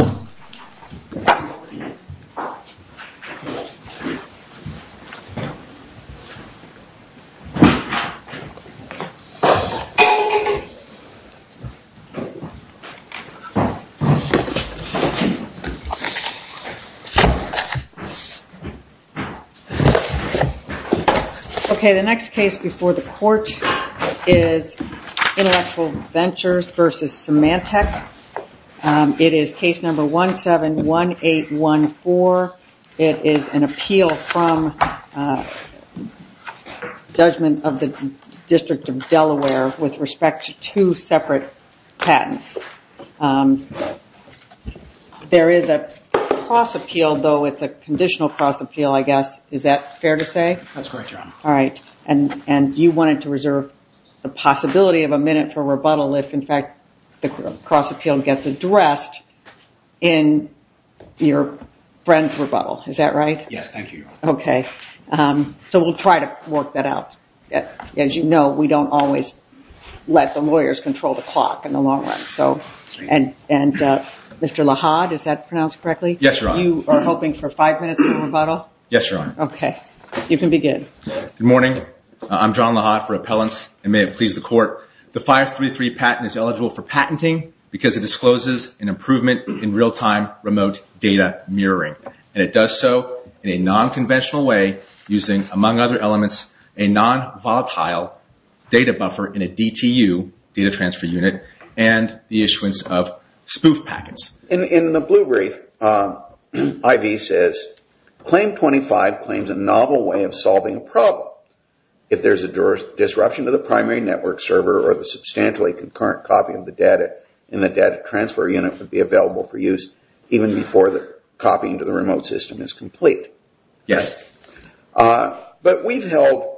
Okay, the next case before the court is Intellectual Ventures v. Symantec. It is case number 171814. It is an appeal from judgment of the District of Delaware with respect to two separate patents. There is a cross appeal, though it's a conditional cross appeal, I guess. Is that fair to say? That's correct, Your Honor. All right. And you wanted to reserve the possibility of a minute for rebuttal if, in fact, the cross appeal gets addressed in your friend's rebuttal. Is that right? Yes, thank you, Your Honor. Okay. So we'll try to work that out. As you know, we don't always let the lawyers control the clock in the long run. And Mr. Lahad, is that pronounced correctly? Yes, Your Honor. You are hoping for five minutes for rebuttal? Yes, Your Honor. Okay. You can begin. Good morning. I'm John Lahad for appellants. And may it please the court, the 533 patent is eligible for patenting because it discloses an improvement in real-time remote data mirroring. And it does so in a non-conventional way using, among other elements, a non-volatile data buffer in a DTU, data transfer unit, and the issuance of spoof packets. In the blue brief, I.V. says, Claim 25 claims a novel way of solving a problem. If there's a disruption to the primary network server or the substantially concurrent copy of the data in the data transfer unit would be available for use even before the copying to the remote system is complete. Yes. But we've held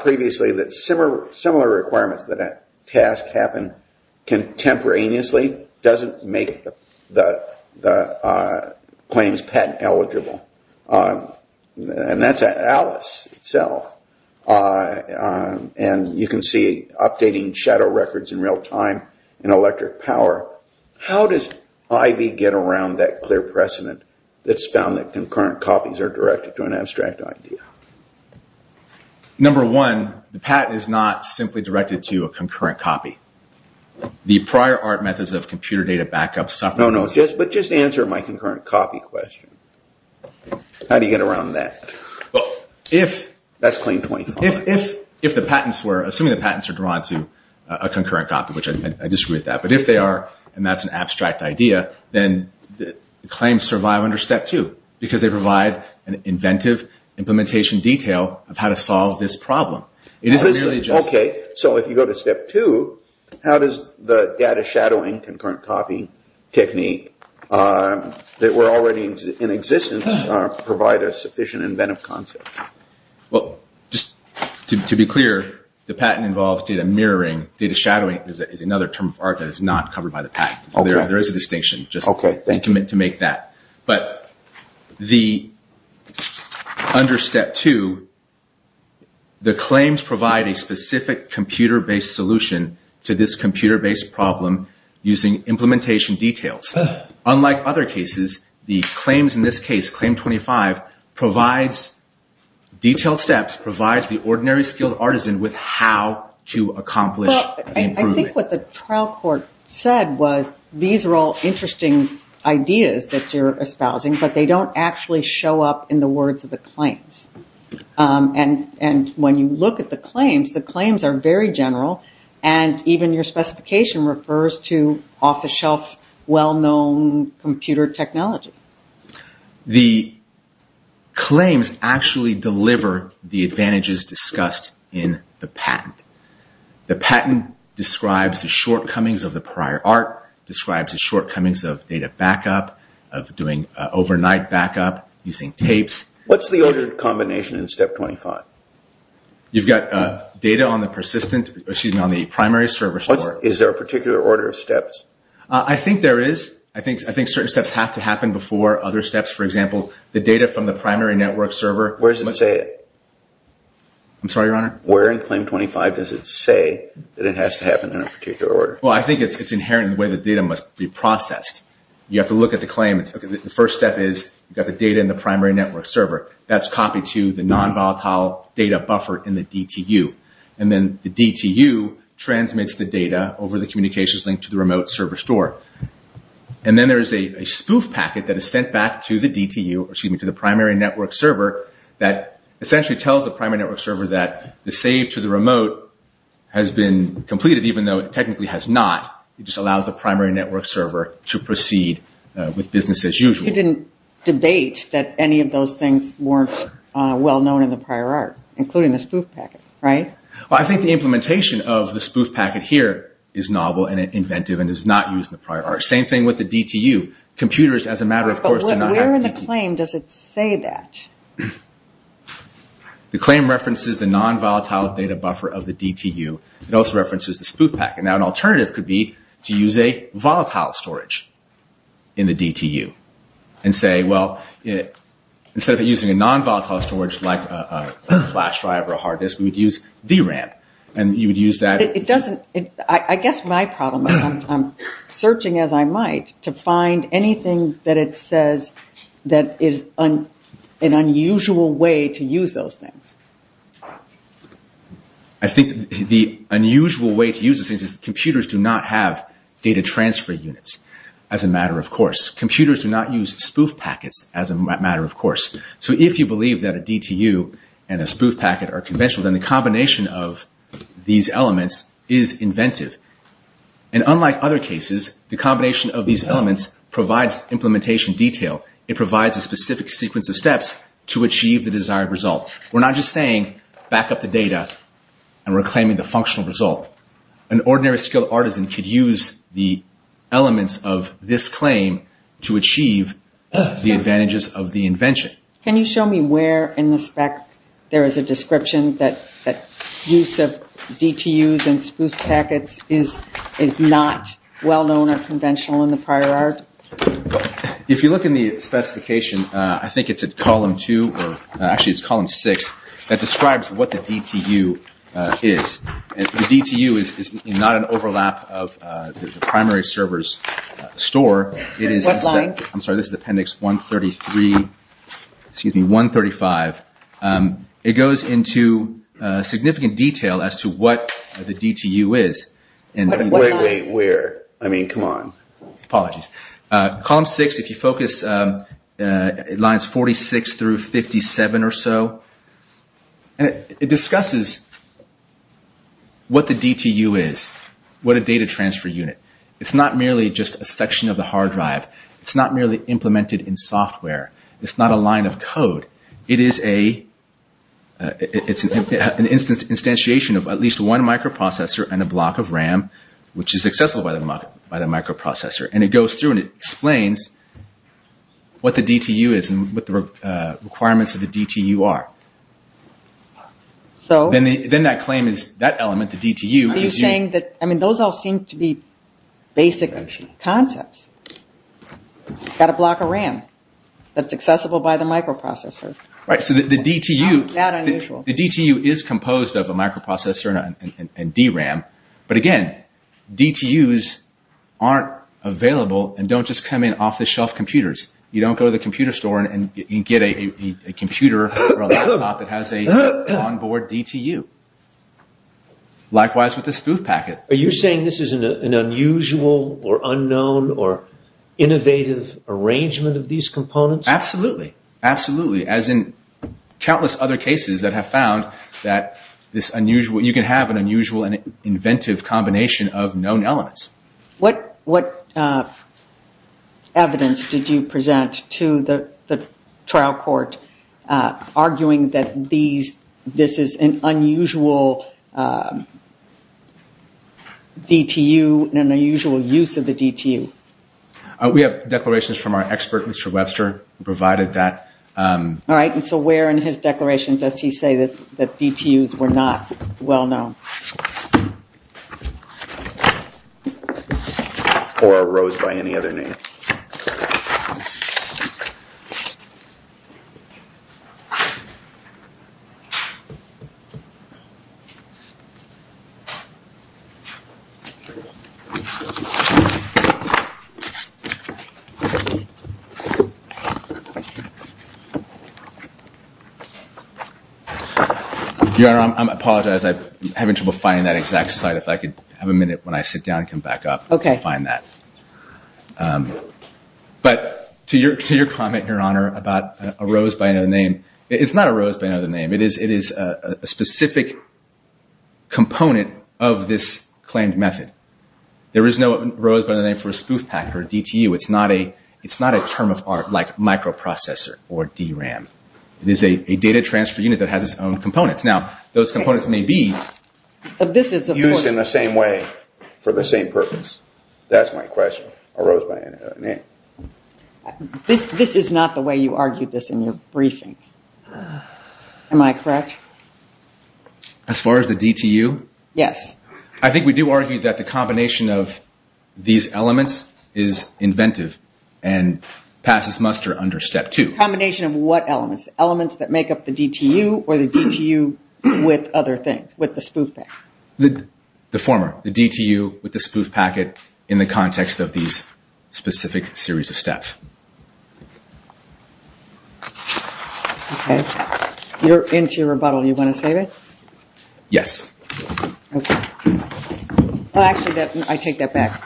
previously that similar requirements that a task happen contemporaneously doesn't make the claims patent eligible. And that's at Alice itself. And you can see updating shadow records in real-time in electric power. How does I.V. get around that clear precedent that's found that concurrent copies are directed to an abstract idea? Number one, the patent is not simply directed to a concurrent copy. The prior art methods of computer data backup suffer. No, but just answer my concurrent copy question. How do you get around that? That's Claim 25. If the patents were, assuming the patents are drawn to a concurrent copy, which I disagree with that, but if they are and that's an abstract idea, then the claims survive under Step 2 because they provide an inventive implementation detail of how to solve this problem. Okay, so if you go to Step 2, how does the data shadowing concurrent copy technique that were already in existence provide a sufficient inventive concept? Well, just to be clear, the patent involves data mirroring. Data shadowing is another term of art that is not covered by the patent. There is a distinction just to make that. But under Step 2, the claims provide a specific computer-based solution to this computer-based problem using implementation details. Unlike other cases, the claims in this case, Claim 25, provides detailed steps, provides the ordinary skilled artisan with how to accomplish improvement. I think what the trial court said was these are all interesting ideas that you're espousing, but they don't actually show up in the words of the claims. And when you look at the claims, the claims are very general and even your specification refers to off-the-shelf, well-known computer technology. The claims actually deliver the advantages discussed in the patent. The patent describes the shortcomings of the prior art, describes the shortcomings of data backup, of doing overnight backup, using tapes. What's the ordered combination in Step 25? You've got data on the primary service order. Is there a particular order of steps? I think there is. I think certain steps have to happen before other steps. For example, the data from the primary network server... Where does it say it? I'm sorry, Your Honor? Where in Claim 25 does it say that it has to happen in a particular order? Well, I think it's inherent in the way the data must be processed. You have to look at the claim. The first step is you've got the data in the primary network server. That's copied to the non-volatile data buffer in the DTU. And then the DTU transmits the data over the communications link to the remote server store. And then there is a spoof packet that is sent back to the DTU, excuse me, to the primary network server that essentially tells the primary network server that the save to the remote has been completed, even though it technically has not. It just allows the primary network server to proceed with business as usual. You didn't debate that any of those things weren't well known in the prior art, including the spoof packet, right? I think the implementation of the spoof packet here is novel and inventive and is not used in the prior art. Same thing with the DTU. Computers, as a matter of course, do not have the DTU. But where in the claim does it say that? The claim references the non-volatile data buffer of the DTU. It also references the spoof packet. Now, an alternative could be to use a volatile storage in the DTU and say, well, instead of using a non-volatile storage like a flash drive or a hard disk, we would use DRAM. I guess my problem is I'm searching as I might to find anything that it says that is an unusual way to use those things. I think the unusual way to use those things is computers do not have data transfer units, as a matter of course. Computers do not use spoof packets, as a matter of course. So if you believe that a DTU and a spoof packet are conventional, then the combination of these elements is inventive. And unlike other cases, the combination of these elements provides implementation detail. It provides a specific sequence of steps to achieve the desired result. We're not just saying back up the data and reclaiming the functional result. An ordinary skilled artisan could use the elements of this claim to achieve the advantages of the invention. Can you show me where in the spec there is a description that use of DTUs and spoof packets is not well-known or conventional in the prior art? If you look in the specification, I think it's at column 2 or actually it's column 6, that describes what the DTU is. The DTU is not an overlap of the primary server's store. What line? I'm sorry, this is appendix 133, excuse me, 135. It goes into significant detail as to what the DTU is. Wait, wait, wait, where? I mean, come on. Apologies. Column 6, if you focus, lines 46 through 57 or so, it discusses what the DTU is, what a data transfer unit. It's not merely just a section of the hard drive. It's not merely implemented in software. It's not a line of code. It is an instantiation of at least one microprocessor and a block of RAM, which is accessible by the microprocessor. It goes through and it explains what the DTU is and what the requirements of the DTU are. Then that claim is, that element, the DTU. Are you saying that, I mean, those all seem to be basic concepts. You've got a block of RAM that's accessible by the microprocessor. Right, so the DTU is composed of a microprocessor and DRAM, but again, DTUs aren't of available and don't just come in off-the-shelf computers. You don't go to the computer store and get a computer or a laptop that has an on-board DTU. Likewise, with the spoof packet. Are you saying this is an unusual or unknown or innovative arrangement of these components? Absolutely. Absolutely. As in countless other cases that have found that you can have an unusual and inventive combination of known elements. What evidence did you present to the trial court arguing that this is an unusual DTU and an unusual use of the DTU? We have declarations from our expert, Mr. Webster, who provided that. All right, and so where in his declaration does he say that DTUs were not well-known? Or arose by any other name? Your Honor, I apologize, I'm having trouble finding that exact slide. If I could have a minute when I sit down and come back up and find that. But to your comment, Your Honor, about arose by any other name, it's not arose by any other name. It is a specific component of this claimed method. There is no arose by any other name for a spoof packet or DTU. It's not a term of art like microprocessor or DRAM. It is a data transfer unit that has its own components. Now those components may be used in the same way for the same purpose. That's my question, arose by any other name. This is not the way you argued this in your briefing, am I correct? As far as the DTU? Yes. I think we do argue that the combination of these elements is inventive and passes muster under step two. Combination of what elements? Elements that make up the DTU or the DTU with other things, with the spoof packet? The former, the DTU with the spoof packet in the context of these specific series of steps. You're into your rebuttal, you want to save it? Yes. Actually, I take that back.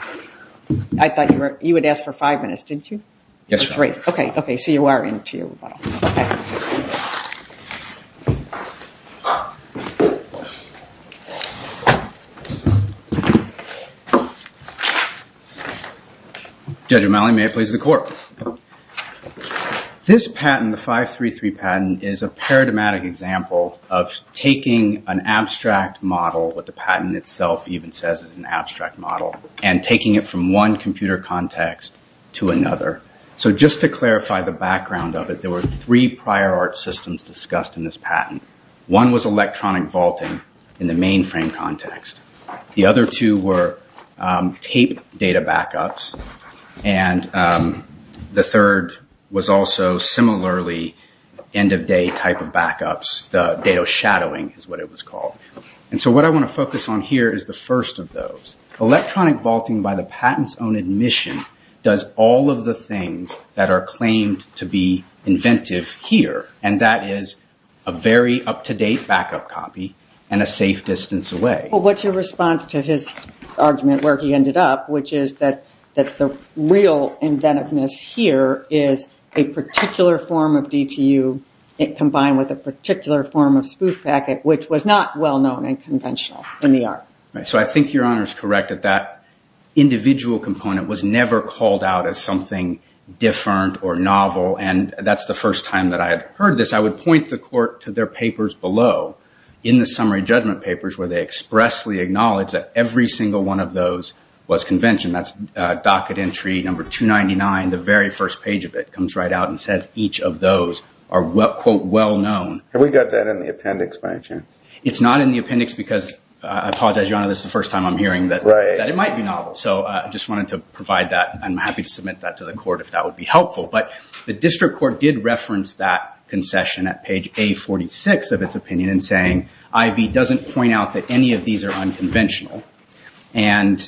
I thought you would ask for five minutes, didn't you? Yes, Your Honor. Three. Okay, so you are into your rebuttal. Judge O'Malley, may I please have the court? This patent, the 533 patent, is a paradigmatic example of taking an abstract model, what the patent itself even says is an abstract model, and taking it from one computer context to another. Just to clarify the background of it, there were three prior art systems discussed in this patent. One was electronic vaulting in the mainframe context. The other two were tape data backups, and the third was also similarly end of day type of backups, the data shadowing is what it was called. What I want to focus on here is the first of those. Electronic vaulting by the patent's own admission does all of the things that are claimed to be inventive here, and that is a very up-to-date backup copy and a safe distance away. What's your response to his argument where he ended up, which is that the real inventiveness here is a particular form of DTU combined with a particular form of spoof packet, which was not well-known and conventional in the art. I think your honor is correct that that individual component was never called out as something different or novel, and that's the first time that I had heard this. I would point the court to their papers below, in the summary judgment papers, where they expressly acknowledge that every single one of those was convention. That's docket entry number 299, the very first page of it comes right out and says each of those are quote well-known. Have we got that in the appendix by any chance? It's not in the appendix because, I apologize your honor, this is the first time I'm hearing that it might be novel, so I just wanted to provide that and I'm happy to submit that to the court if that would be helpful, but the district court did reference that concession at page A46 of its opinion in saying I.B. doesn't point out that any of these are unconventional, and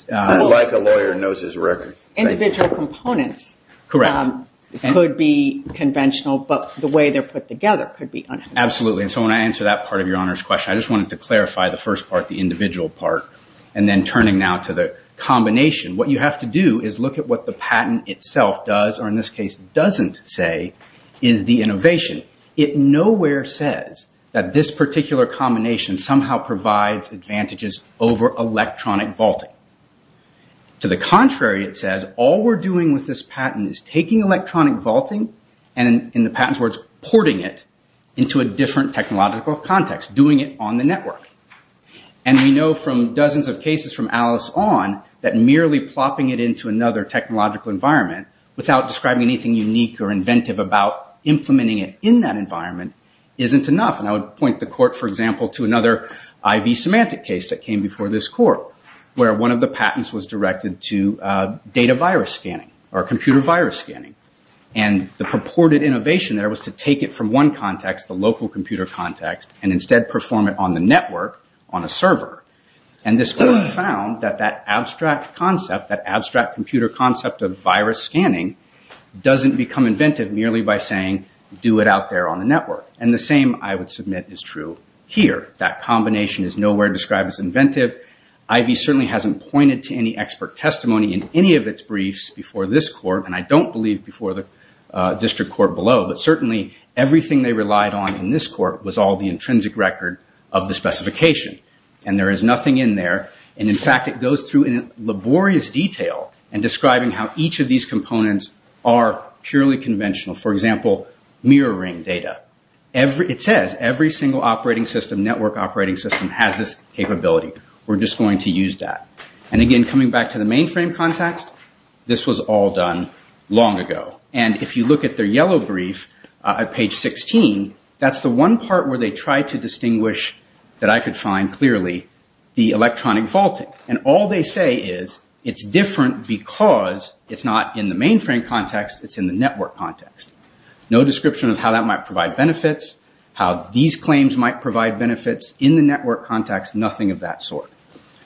individual components could be conventional, but the way they're put together could be unconventional. Absolutely, and so when I answer that part of your honor's question, I just wanted to clarify the first part, the individual part, and then turning now to the combination. What you have to do is look at what the patent itself does, or in this case doesn't say is the innovation. It nowhere says that this particular combination somehow provides advantages over electronic vaulting. To the contrary, it says all we're doing with this patent is taking electronic vaulting and in the patent's words, porting it into a different technological context, doing it on the network, and we know from dozens of cases from Alice on that merely plopping it into another technological environment without describing anything unique or inventive about implementing it in that environment isn't enough, and I would point the court, for example, to another IV semantic case that came before this court where one of the patents was directed to data virus scanning or computer virus scanning, and the purported innovation there was to take it from one context, the local computer context, and instead perform it on the network, on a server, and this court found that that abstract concept, that abstract computer concept of virus scanning doesn't become inventive merely by saying do it out there on the network, and the same I would submit is true here. That combination is nowhere described as inventive. IV certainly hasn't pointed to any expert testimony in any of its briefs before this court, and I don't believe before the district court below, but certainly everything they relied on in this court was all the intrinsic record of the specification, and there is nothing in there, and in fact, it goes through in laborious detail in describing how each of these components are purely conventional. For example, mirroring data. It says every single operating system, network operating system has this capability. We're just going to use that, and again, coming back to the mainframe context, this was all done long ago, and if you look at their yellow brief at page 16, that's the one part where they try to distinguish that I could find clearly the electronic fault, and all they say is it's different because it's not in the mainframe context. It's in the network context. No description of how that might provide benefits, how these claims might provide benefits in the network context, nothing of that sort.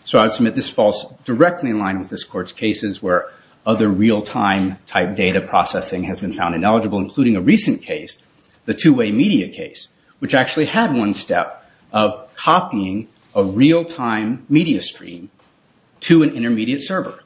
So I would submit this falls directly in line with this court's cases where other real-time type data processing has been found ineligible, including a recent case, the two-way media case, which actually had one step of copying a real-time media stream to an intermediate server.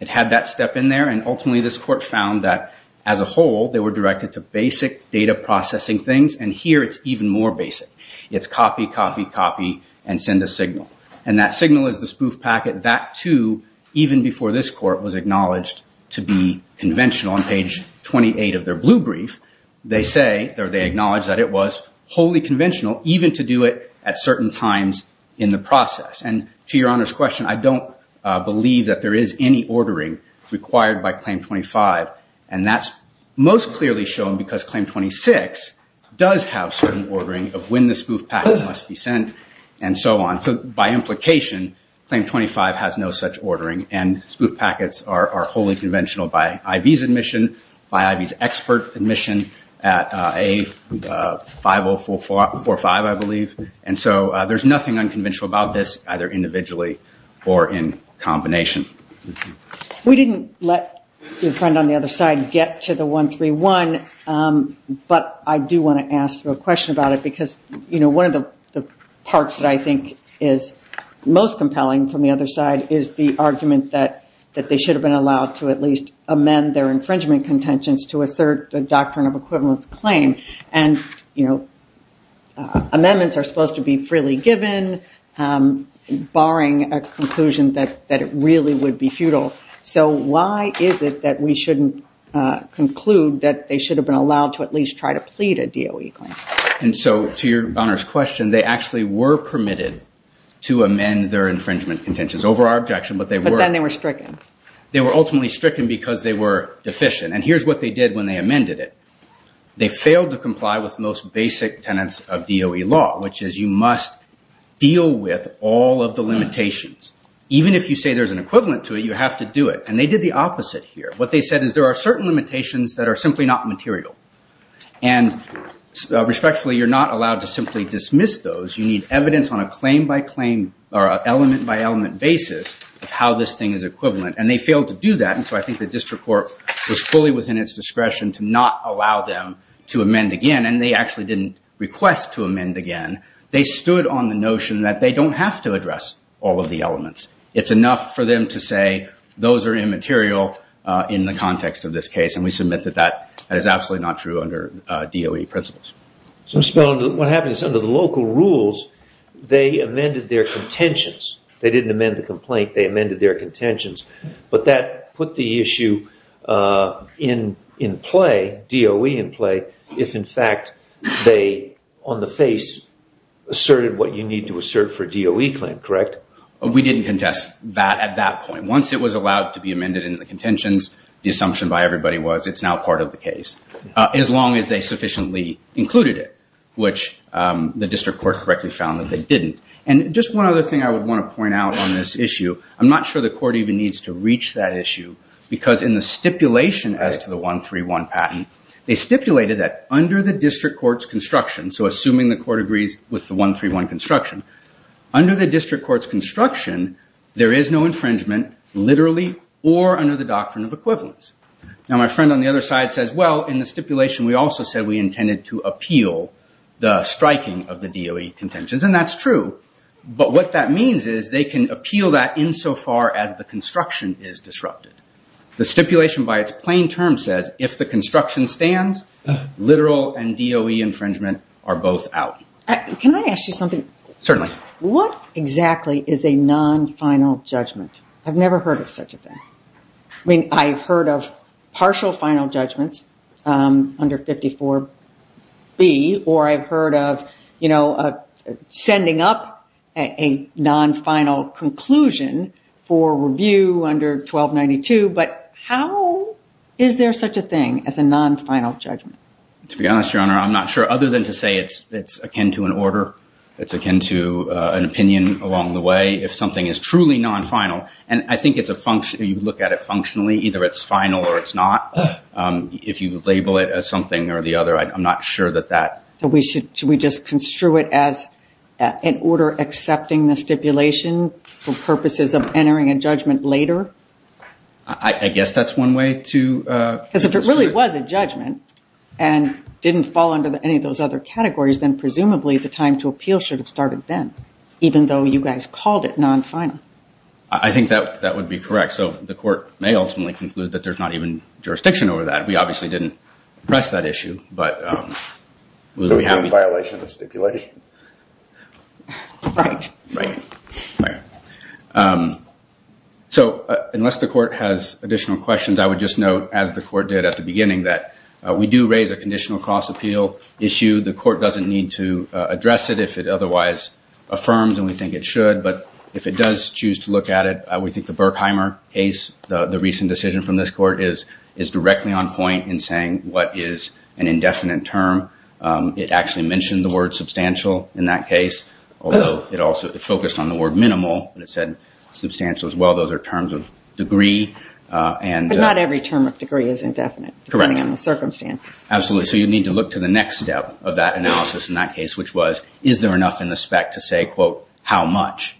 It had that step in there, and ultimately, this court found that as a whole, they were directed to basic data processing things, and here, it's even more basic. It's copy, copy, copy, and send a signal, and that signal is the spoof packet. That, too, even before this court was acknowledged to be conventional. On page 28 of their blue brief, they say, or they acknowledge that it was wholly conventional, even to do it at certain times in the process, and to your Honor's question, I don't believe that there is any ordering required by Claim 25, and that's most clearly shown because Claim 26 does have certain ordering of when the spoof packet must be sent, and so on. So by implication, Claim 25 has no such ordering, and spoof packets are wholly conventional by I.V.'s admission, by I.V.'s expert admission at A5045, I believe, and so there's nothing unconventional about this, either individually or in combination. We didn't let your friend on the other side get to the 131, but I do want to ask you a question about it because, you know, one of the parts that I think is most compelling from the other side is the argument that they should have been allowed to at least amend their infringement contentions to assert a doctrine of equivalence claim, and, you know, amendments are supposed to be freely given, barring a conclusion that it really would be futile. So why is it that we shouldn't conclude that they should have been allowed to at least try to plead a DOE claim? And so, to your Honor's question, they actually were permitted to amend their infringement contentions. Over our objection, but they were... But then they were stricken. They were ultimately stricken because they were deficient, and here's what they did when they amended it. They failed to comply with most basic tenets of DOE law, which is you must deal with all of the limitations. Even if you say there's an equivalent to it, you have to do it, and they did the opposite here. What they said is there are certain limitations that are simply not material, and respectfully, you're not allowed to simply dismiss those. You need evidence on a claim-by-claim or an element-by-element basis of how this thing is equivalent, and they failed to do that, and so I think the district court was fully within its discretion to not allow them to amend again, and they actually didn't request to amend again. They stood on the notion that they don't have to address all of the elements. It's enough for them to say those are immaterial in the context of this case, and we submit that that is absolutely not true under DOE principles. What happens is under the local rules, they amended their contentions. They didn't amend the complaint. They amended their contentions, but that put the issue in play, DOE in play, if in fact they, on the face, asserted what you need to assert for a DOE claim, correct? We didn't contest that at that point. Once it was allowed to be amended in the contentions, the assumption by everybody was it's now part of the case, as long as they sufficiently included it, which the district court correctly found that they didn't, and just one other thing I would want to point out on this issue. I'm not sure the court even needs to reach that issue because in the stipulation as to the 131 patent, they stipulated that under the district court's construction, so assuming the court agrees with the 131 construction, under the district court's construction, there is no infringement literally or under the doctrine of equivalence. Now, my friend on the other side says, well, in the stipulation, we also said we intended to appeal the striking of the DOE contentions, and that's true, but what that means is they can appeal that insofar as the construction is disrupted. The stipulation by its plain term says if the construction stands, literal and DOE infringement are both out. Can I ask you something? Certainly. What exactly is a non-final judgment? I've never heard of such a thing. I've heard of partial final judgments under 54B, or I've heard of sending up a non-final conclusion for review under 1292, but how is there such a thing as a non-final judgment? To be honest, Your Honor, I'm not sure. Other than to say it's akin to an order, it's akin to an opinion along the way, if something is truly non-final, and I think you look at it functionally. Either it's final or it's not. If you label it as something or the other, I'm not sure that that. So should we just construe it as an order accepting the stipulation for purposes of entering a judgment later? I guess that's one way to construe it. Because if it really was a judgment and didn't fall under any of those other categories, then presumably the time to appeal should have started then, even though you guys called it non-final. I think that would be correct. So the court may ultimately conclude that there's not even jurisdiction over that. We obviously didn't press that issue. So we have a violation of the stipulation? Right. So unless the court has additional questions, I would just note, as the court did at the beginning, that we do raise a conditional cost appeal issue. The court doesn't need to address it if it otherwise affirms, and we think it should. But if it does choose to look at it, we think the Berkheimer case, the recent decision from this court, is directly on point in saying what is an indefinite term. It actually mentioned the word substantial in that case, although it also focused on the word minimal, but it said substantial as well. Those are terms of degree. But not every term of degree is indefinite, depending on the circumstances. Absolutely. So you need to look to the next step of that analysis in that case, which was is there enough in the spec to say, quote, how much.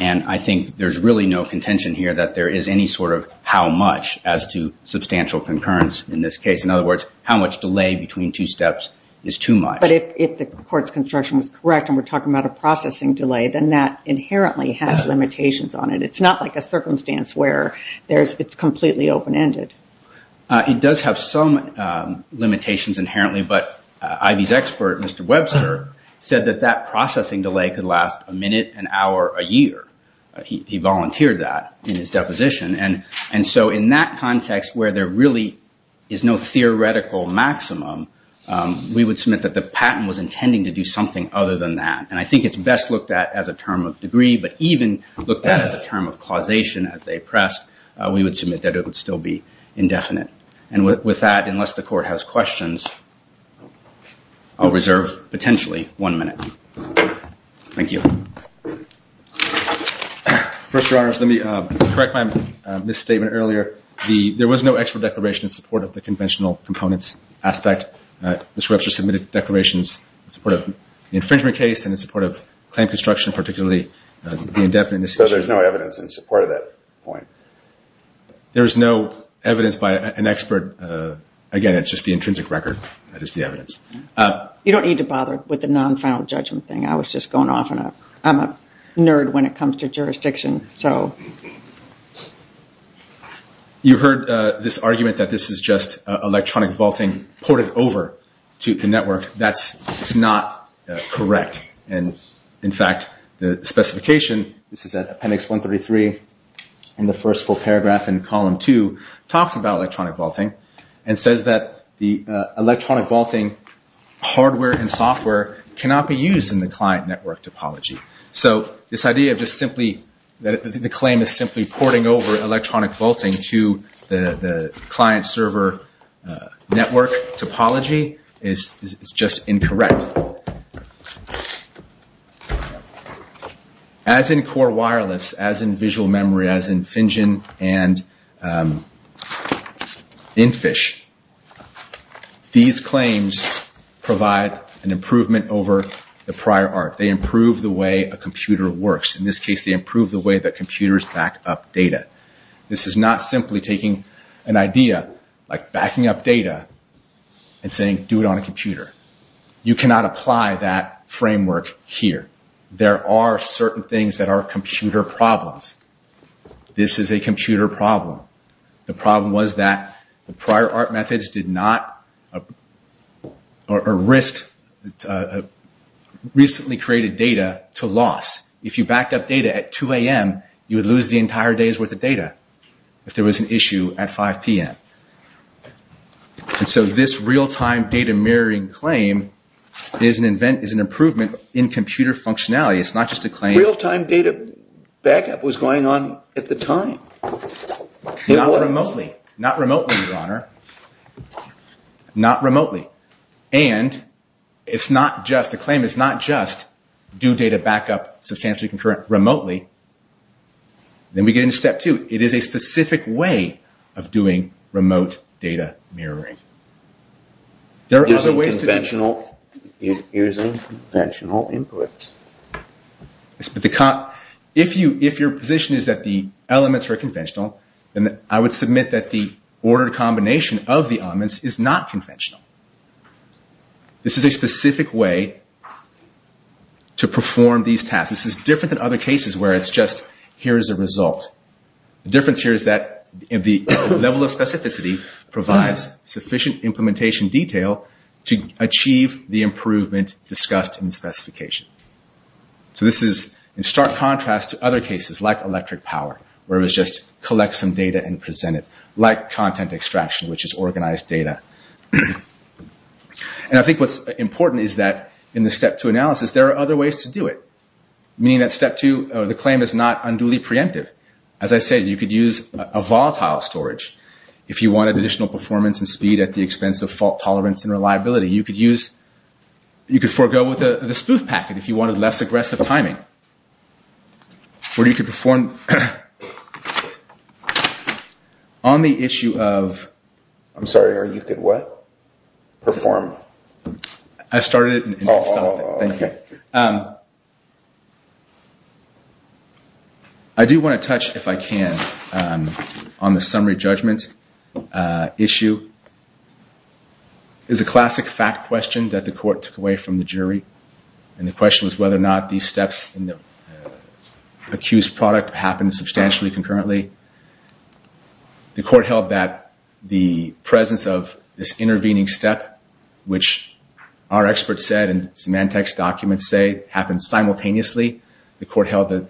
And I think there's really no contention here that there is any sort of how much as to substantial concurrence in this case. In other words, how much delay between two steps is too much. But if the court's construction was correct and we're talking about a processing delay, then that inherently has limitations on it. It's not like a circumstance where it's completely open-ended. It does have some limitations inherently, but Ivy's expert, Mr. Webster, said that that processing delay could last a minute, an hour, a year. He volunteered that in his deposition. And so in that context where there really is no theoretical maximum, we would submit that the patent was intending to do something other than that. And I think it's best looked at as a term of degree, but even looked at as a term of causation as they pressed, we would submit that it would still be indefinite. And with that, unless the court has questions, I'll reserve potentially one minute. Thank you. First of all, let me correct my misstatement earlier. There was no actual declaration in support of the conventional components aspect. Mr. Webster submitted declarations in support of the infringement case and in support of claim construction, particularly the indefinite decision. So there's no evidence in support of that point. There is no evidence by an expert. Again, it's just the intrinsic record that is the evidence. You don't need to bother with the non-final judgment thing. I'm a nerd when it comes to jurisdiction. You heard this argument that this is just electronic vaulting ported over to the network. That's not correct. In fact, the specification, this is at appendix 133 in the first full paragraph in column two, talks about electronic vaulting and says that the electronic vaulting hardware and software cannot be used in the client network topology. So this idea of just simply that the claim is simply porting over electronic vaulting to the client server network topology is just incorrect. As in core wireless, as in visual memory, as in FinGen and InFish, these claims provide an improvement over the prior art. They improve the way a computer works. In this case, they improve the way that computers back up data. This is not simply taking an idea, like backing up data, and saying do it on a computer. You cannot apply that framework here. There are certain things that are computer problems. This is a computer problem. The problem was that the prior art methods did not or recently created data to loss. If you backed up data at 2 a.m., you would lose the entire day's worth of data if there was an issue at 5 p.m. So this real-time data mirroring claim is an improvement in computer functionality. It's not just a claim. Real-time data backup was going on at the time. Not remotely, Your Honor. Not remotely. And the claim is not just do data backup substantially concurrent remotely. Then we get into step two. It is a specific way of doing remote data mirroring. Using conventional inputs. If your position is that the elements are conventional, then I would submit that the ordered combination of the elements is not conventional. This is a specific way to perform these tasks. This is different than other cases where it's just here is a result. The difference here is that the level of specificity provides sufficient implementation detail to achieve the improvement discussed in the specification. So this is in stark contrast to other cases like electric power, where it was just collect some data and present it. Like content extraction, which is organized data. And I think what's important is that in the step two analysis, there are other ways to do it. Meaning that step two, the claim is not unduly preemptive. As I said, you could use a volatile storage. If you wanted additional performance and speed at the expense of fault tolerance and reliability, you could forego with the spoof packet if you wanted less aggressive timing. Or you could perform. On the issue of. I'm sorry, you could what? Perform. I started it. Thank you. I do want to touch, if I can, on the summary judgment issue. It's a classic fact question that the court took away from the jury. And the question was whether or not these steps in the accused product happened substantially concurrently. The court held that the presence of this intervening step, which our experts said, and Symantec's documents say, happened simultaneously. The court held that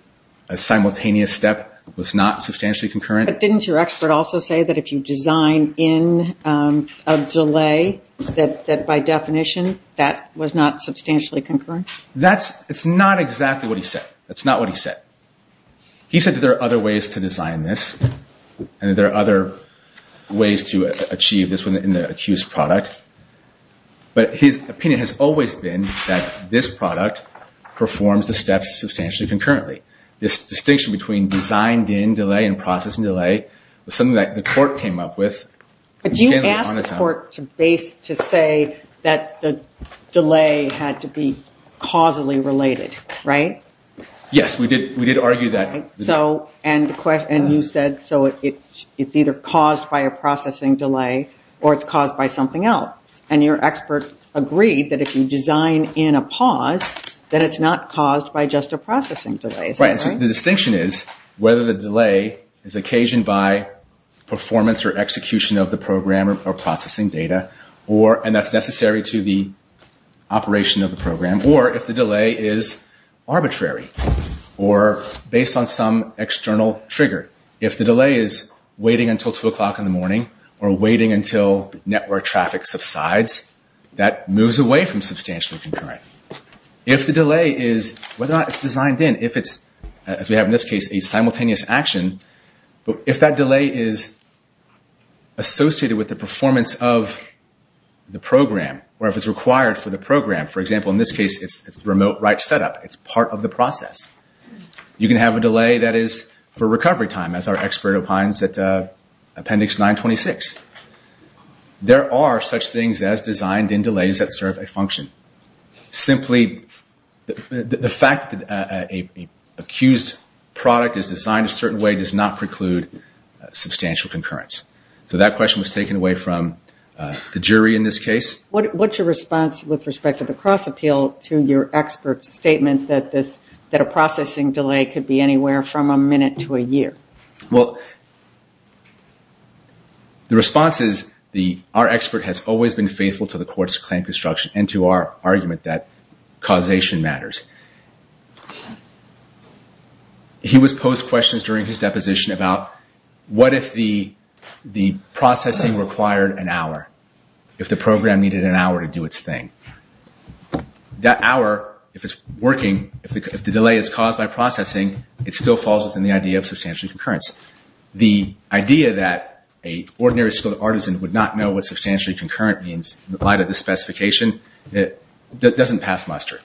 a simultaneous step was not substantially concurrent. But didn't your expert also say that if you design in a delay, that by definition that was not substantially concurrent? That's not exactly what he said. That's not what he said. He said that there are other ways to design this. And there are other ways to achieve this in the accused product. But his opinion has always been that this product performs the steps substantially concurrently. This distinction between designed in delay and process in delay was something that the court came up with. Do you ask the court to say that the delay had to be causally related, right? Yes, we did argue that. And you said so it's either caused by a processing delay or it's caused by something else. And your expert agreed that if you design in a pause, that it's not caused by just a processing delay. Right. The distinction is whether the delay is occasioned by performance or execution of the program or processing data, and that's necessary to the operation of the program, or if the delay is arbitrary or based on some external trigger. If the delay is waiting until 2 o'clock in the morning or waiting until network traffic subsides, that moves away from substantially concurrent. If the delay is whether or not it's designed in, if it's, as we have in this case, a simultaneous action, if that delay is associated with the performance of the program or if it's required for the program, for example in this case it's remote write setup, it's part of the process, you can have a delay that is for recovery time, as our expert opines at appendix 926. There are such things as designed in delays that serve a function. Simply the fact that an accused product is designed a certain way does not preclude substantial concurrence. So that question was taken away from the jury in this case. What's your response with respect to the cross appeal to your expert's statement that a processing delay could be anywhere from a minute to a year? Well, the response is our expert has always been faithful to the court's claim construction and to our argument that causation matters. He was posed questions during his deposition about what if the processing required an hour, if the program needed an hour to do its thing. That hour, if it's working, if the delay is caused by processing, it still falls within the idea of substantial concurrence. The idea that an ordinary skilled artisan would not know what substantially concurrent means, in light of the specification, doesn't pass muster.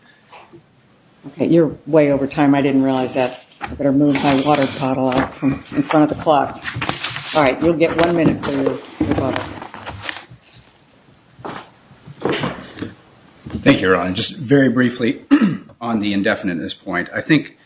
You're way over time. I didn't realize that. I better move my water bottle out in front of the clock. All right, you'll get one minute for your bottle. Thank you, Your Honor. Just very briefly on the indefinite at this point, I think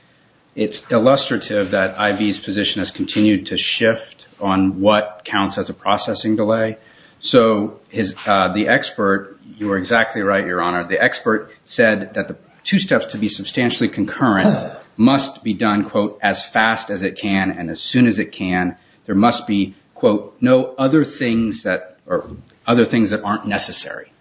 it's illustrative that I.B.'s position has continued to shift on what counts as a processing delay. So the expert, you are exactly right, Your Honor, the expert said that the two steps to be substantially concurrent must be done, quote, as fast as it can and as soon as it can. There must be, quote, no other things that aren't necessary.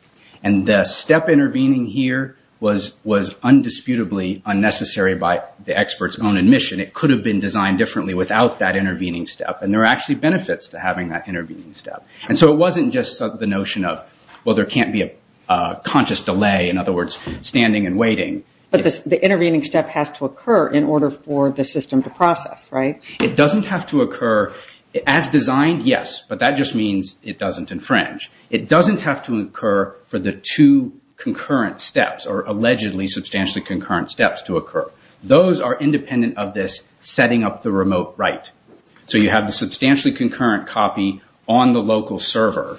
And the step intervening here was undisputably unnecessary by the expert's own admission. It could have been designed differently without that intervening step. And there are actually benefits to having that intervening step. And so it wasn't just the notion of, well, there can't be a conscious delay, in other words, standing and waiting. But the intervening step has to occur in order for the system to process, right? It doesn't have to occur. As designed, yes, but that just means it doesn't infringe. It doesn't have to occur for the two concurrent steps or allegedly substantially concurrent steps to occur. Those are independent of this setting up the remote right. So you have the substantially concurrent copy on the local server.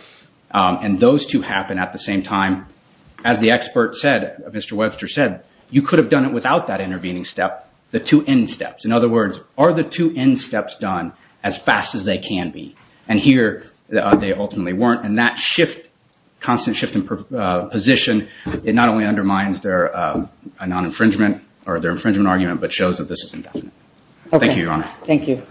And those two happen at the same time. As the expert said, Mr. Webster said, you could have done it without that intervening step, the two end steps. In other words, are the two end steps done as fast as they can be? And here they ultimately weren't. And that shift, constant shift in position, it not only undermines their non-infringement or their infringement argument, but shows that this is indefinite. Thank you, Your Honor. Thank you.